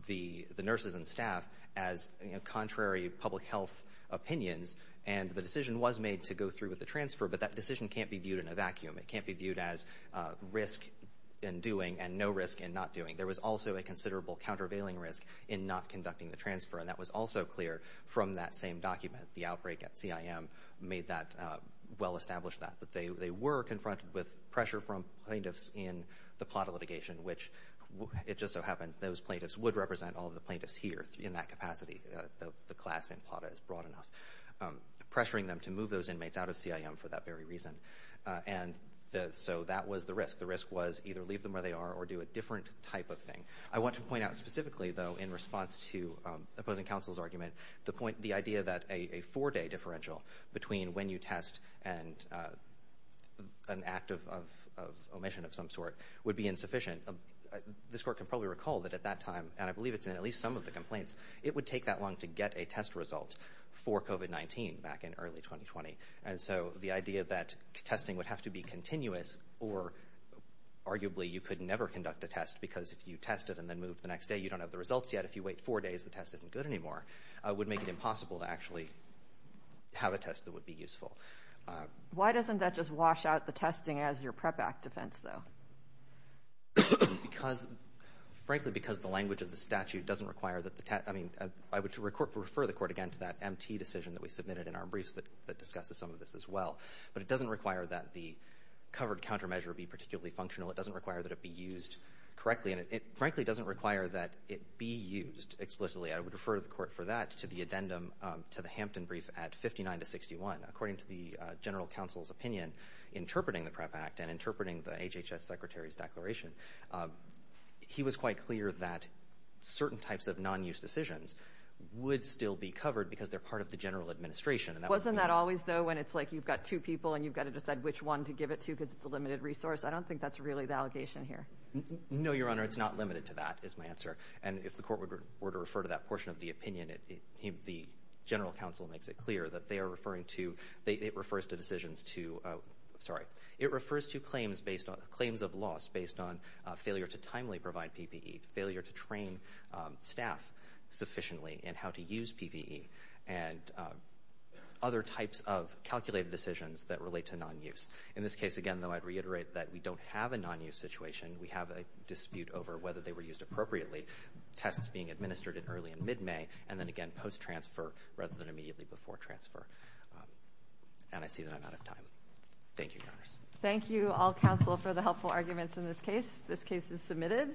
the nurses and staff as contrary public health opinions, and the decision was made to go through with the transfer, but that decision can't be viewed in a vacuum. It can't be viewed as risk in doing and no risk in not doing. There was also a considerable countervailing risk in not conducting the transfer, and that was also clear from that same document. The outbreak at CIM made that well established that they were confronted with pressure from plaintiffs in the Plata litigation, which it just so happened those plaintiffs would represent all of the plaintiffs here in that capacity, the class in Plata is broad enough, pressuring them to move those inmates out of CIM for that very reason. And so that was the risk. The risk was either leave them where they are or do a different type of thing. I want to point out specifically, though, in response to opposing counsel's argument, the idea that a four-day differential between when you test and an act of omission of some sort would be insufficient. This court can probably recall that at that time, and I believe it's in at least some of the complaints, it would take that long to get a test result for COVID-19 back in early 2020. And so the idea that testing would have to be continuous or arguably you could never conduct a test because if you test it and then move the next day, you don't have the results yet. If you wait four days, the test isn't good anymore, would make it impossible to actually have a test that would be useful. Why doesn't that just wash out the language of the statute? I would refer the court again to that MT decision that we submitted in our briefs that discusses some of this as well. But it doesn't require that the covered countermeasure be particularly functional. It doesn't require that it be used correctly. And it frankly doesn't require that it be used explicitly. I would refer the court for that to the addendum to the Hampton brief at 59 to 61. According to the general counsel's opinion, interpreting the PREP Act and interpreting the HHS secretary's declaration, he was quite clear that certain types of non-use decisions would still be covered because they're part of the general administration. Wasn't that always though when it's like you've got two people and you've got to decide which one to give it to because it's a limited resource? I don't think that's really the allegation here. No, your honor. It's not limited to that is my answer. And if the court were to refer to that portion of the opinion, the general counsel makes it clear that they are referring to, it refers to decisions to, sorry, it refers to claims based on, claims of loss based on failure to timely provide PPE, failure to train staff sufficiently and how to use PPE, and other types of calculated decisions that relate to non-use. In this case, again, though, I'd reiterate that we don't have a non-use situation. We have a dispute over whether they were used appropriately, tests being administered at early and mid-May, and then again post-transfer rather than immediately before transfer. And I see that I'm out of time. Thank you, your honors. Thank you all counsel for the helpful arguments in this case. This case is submitted.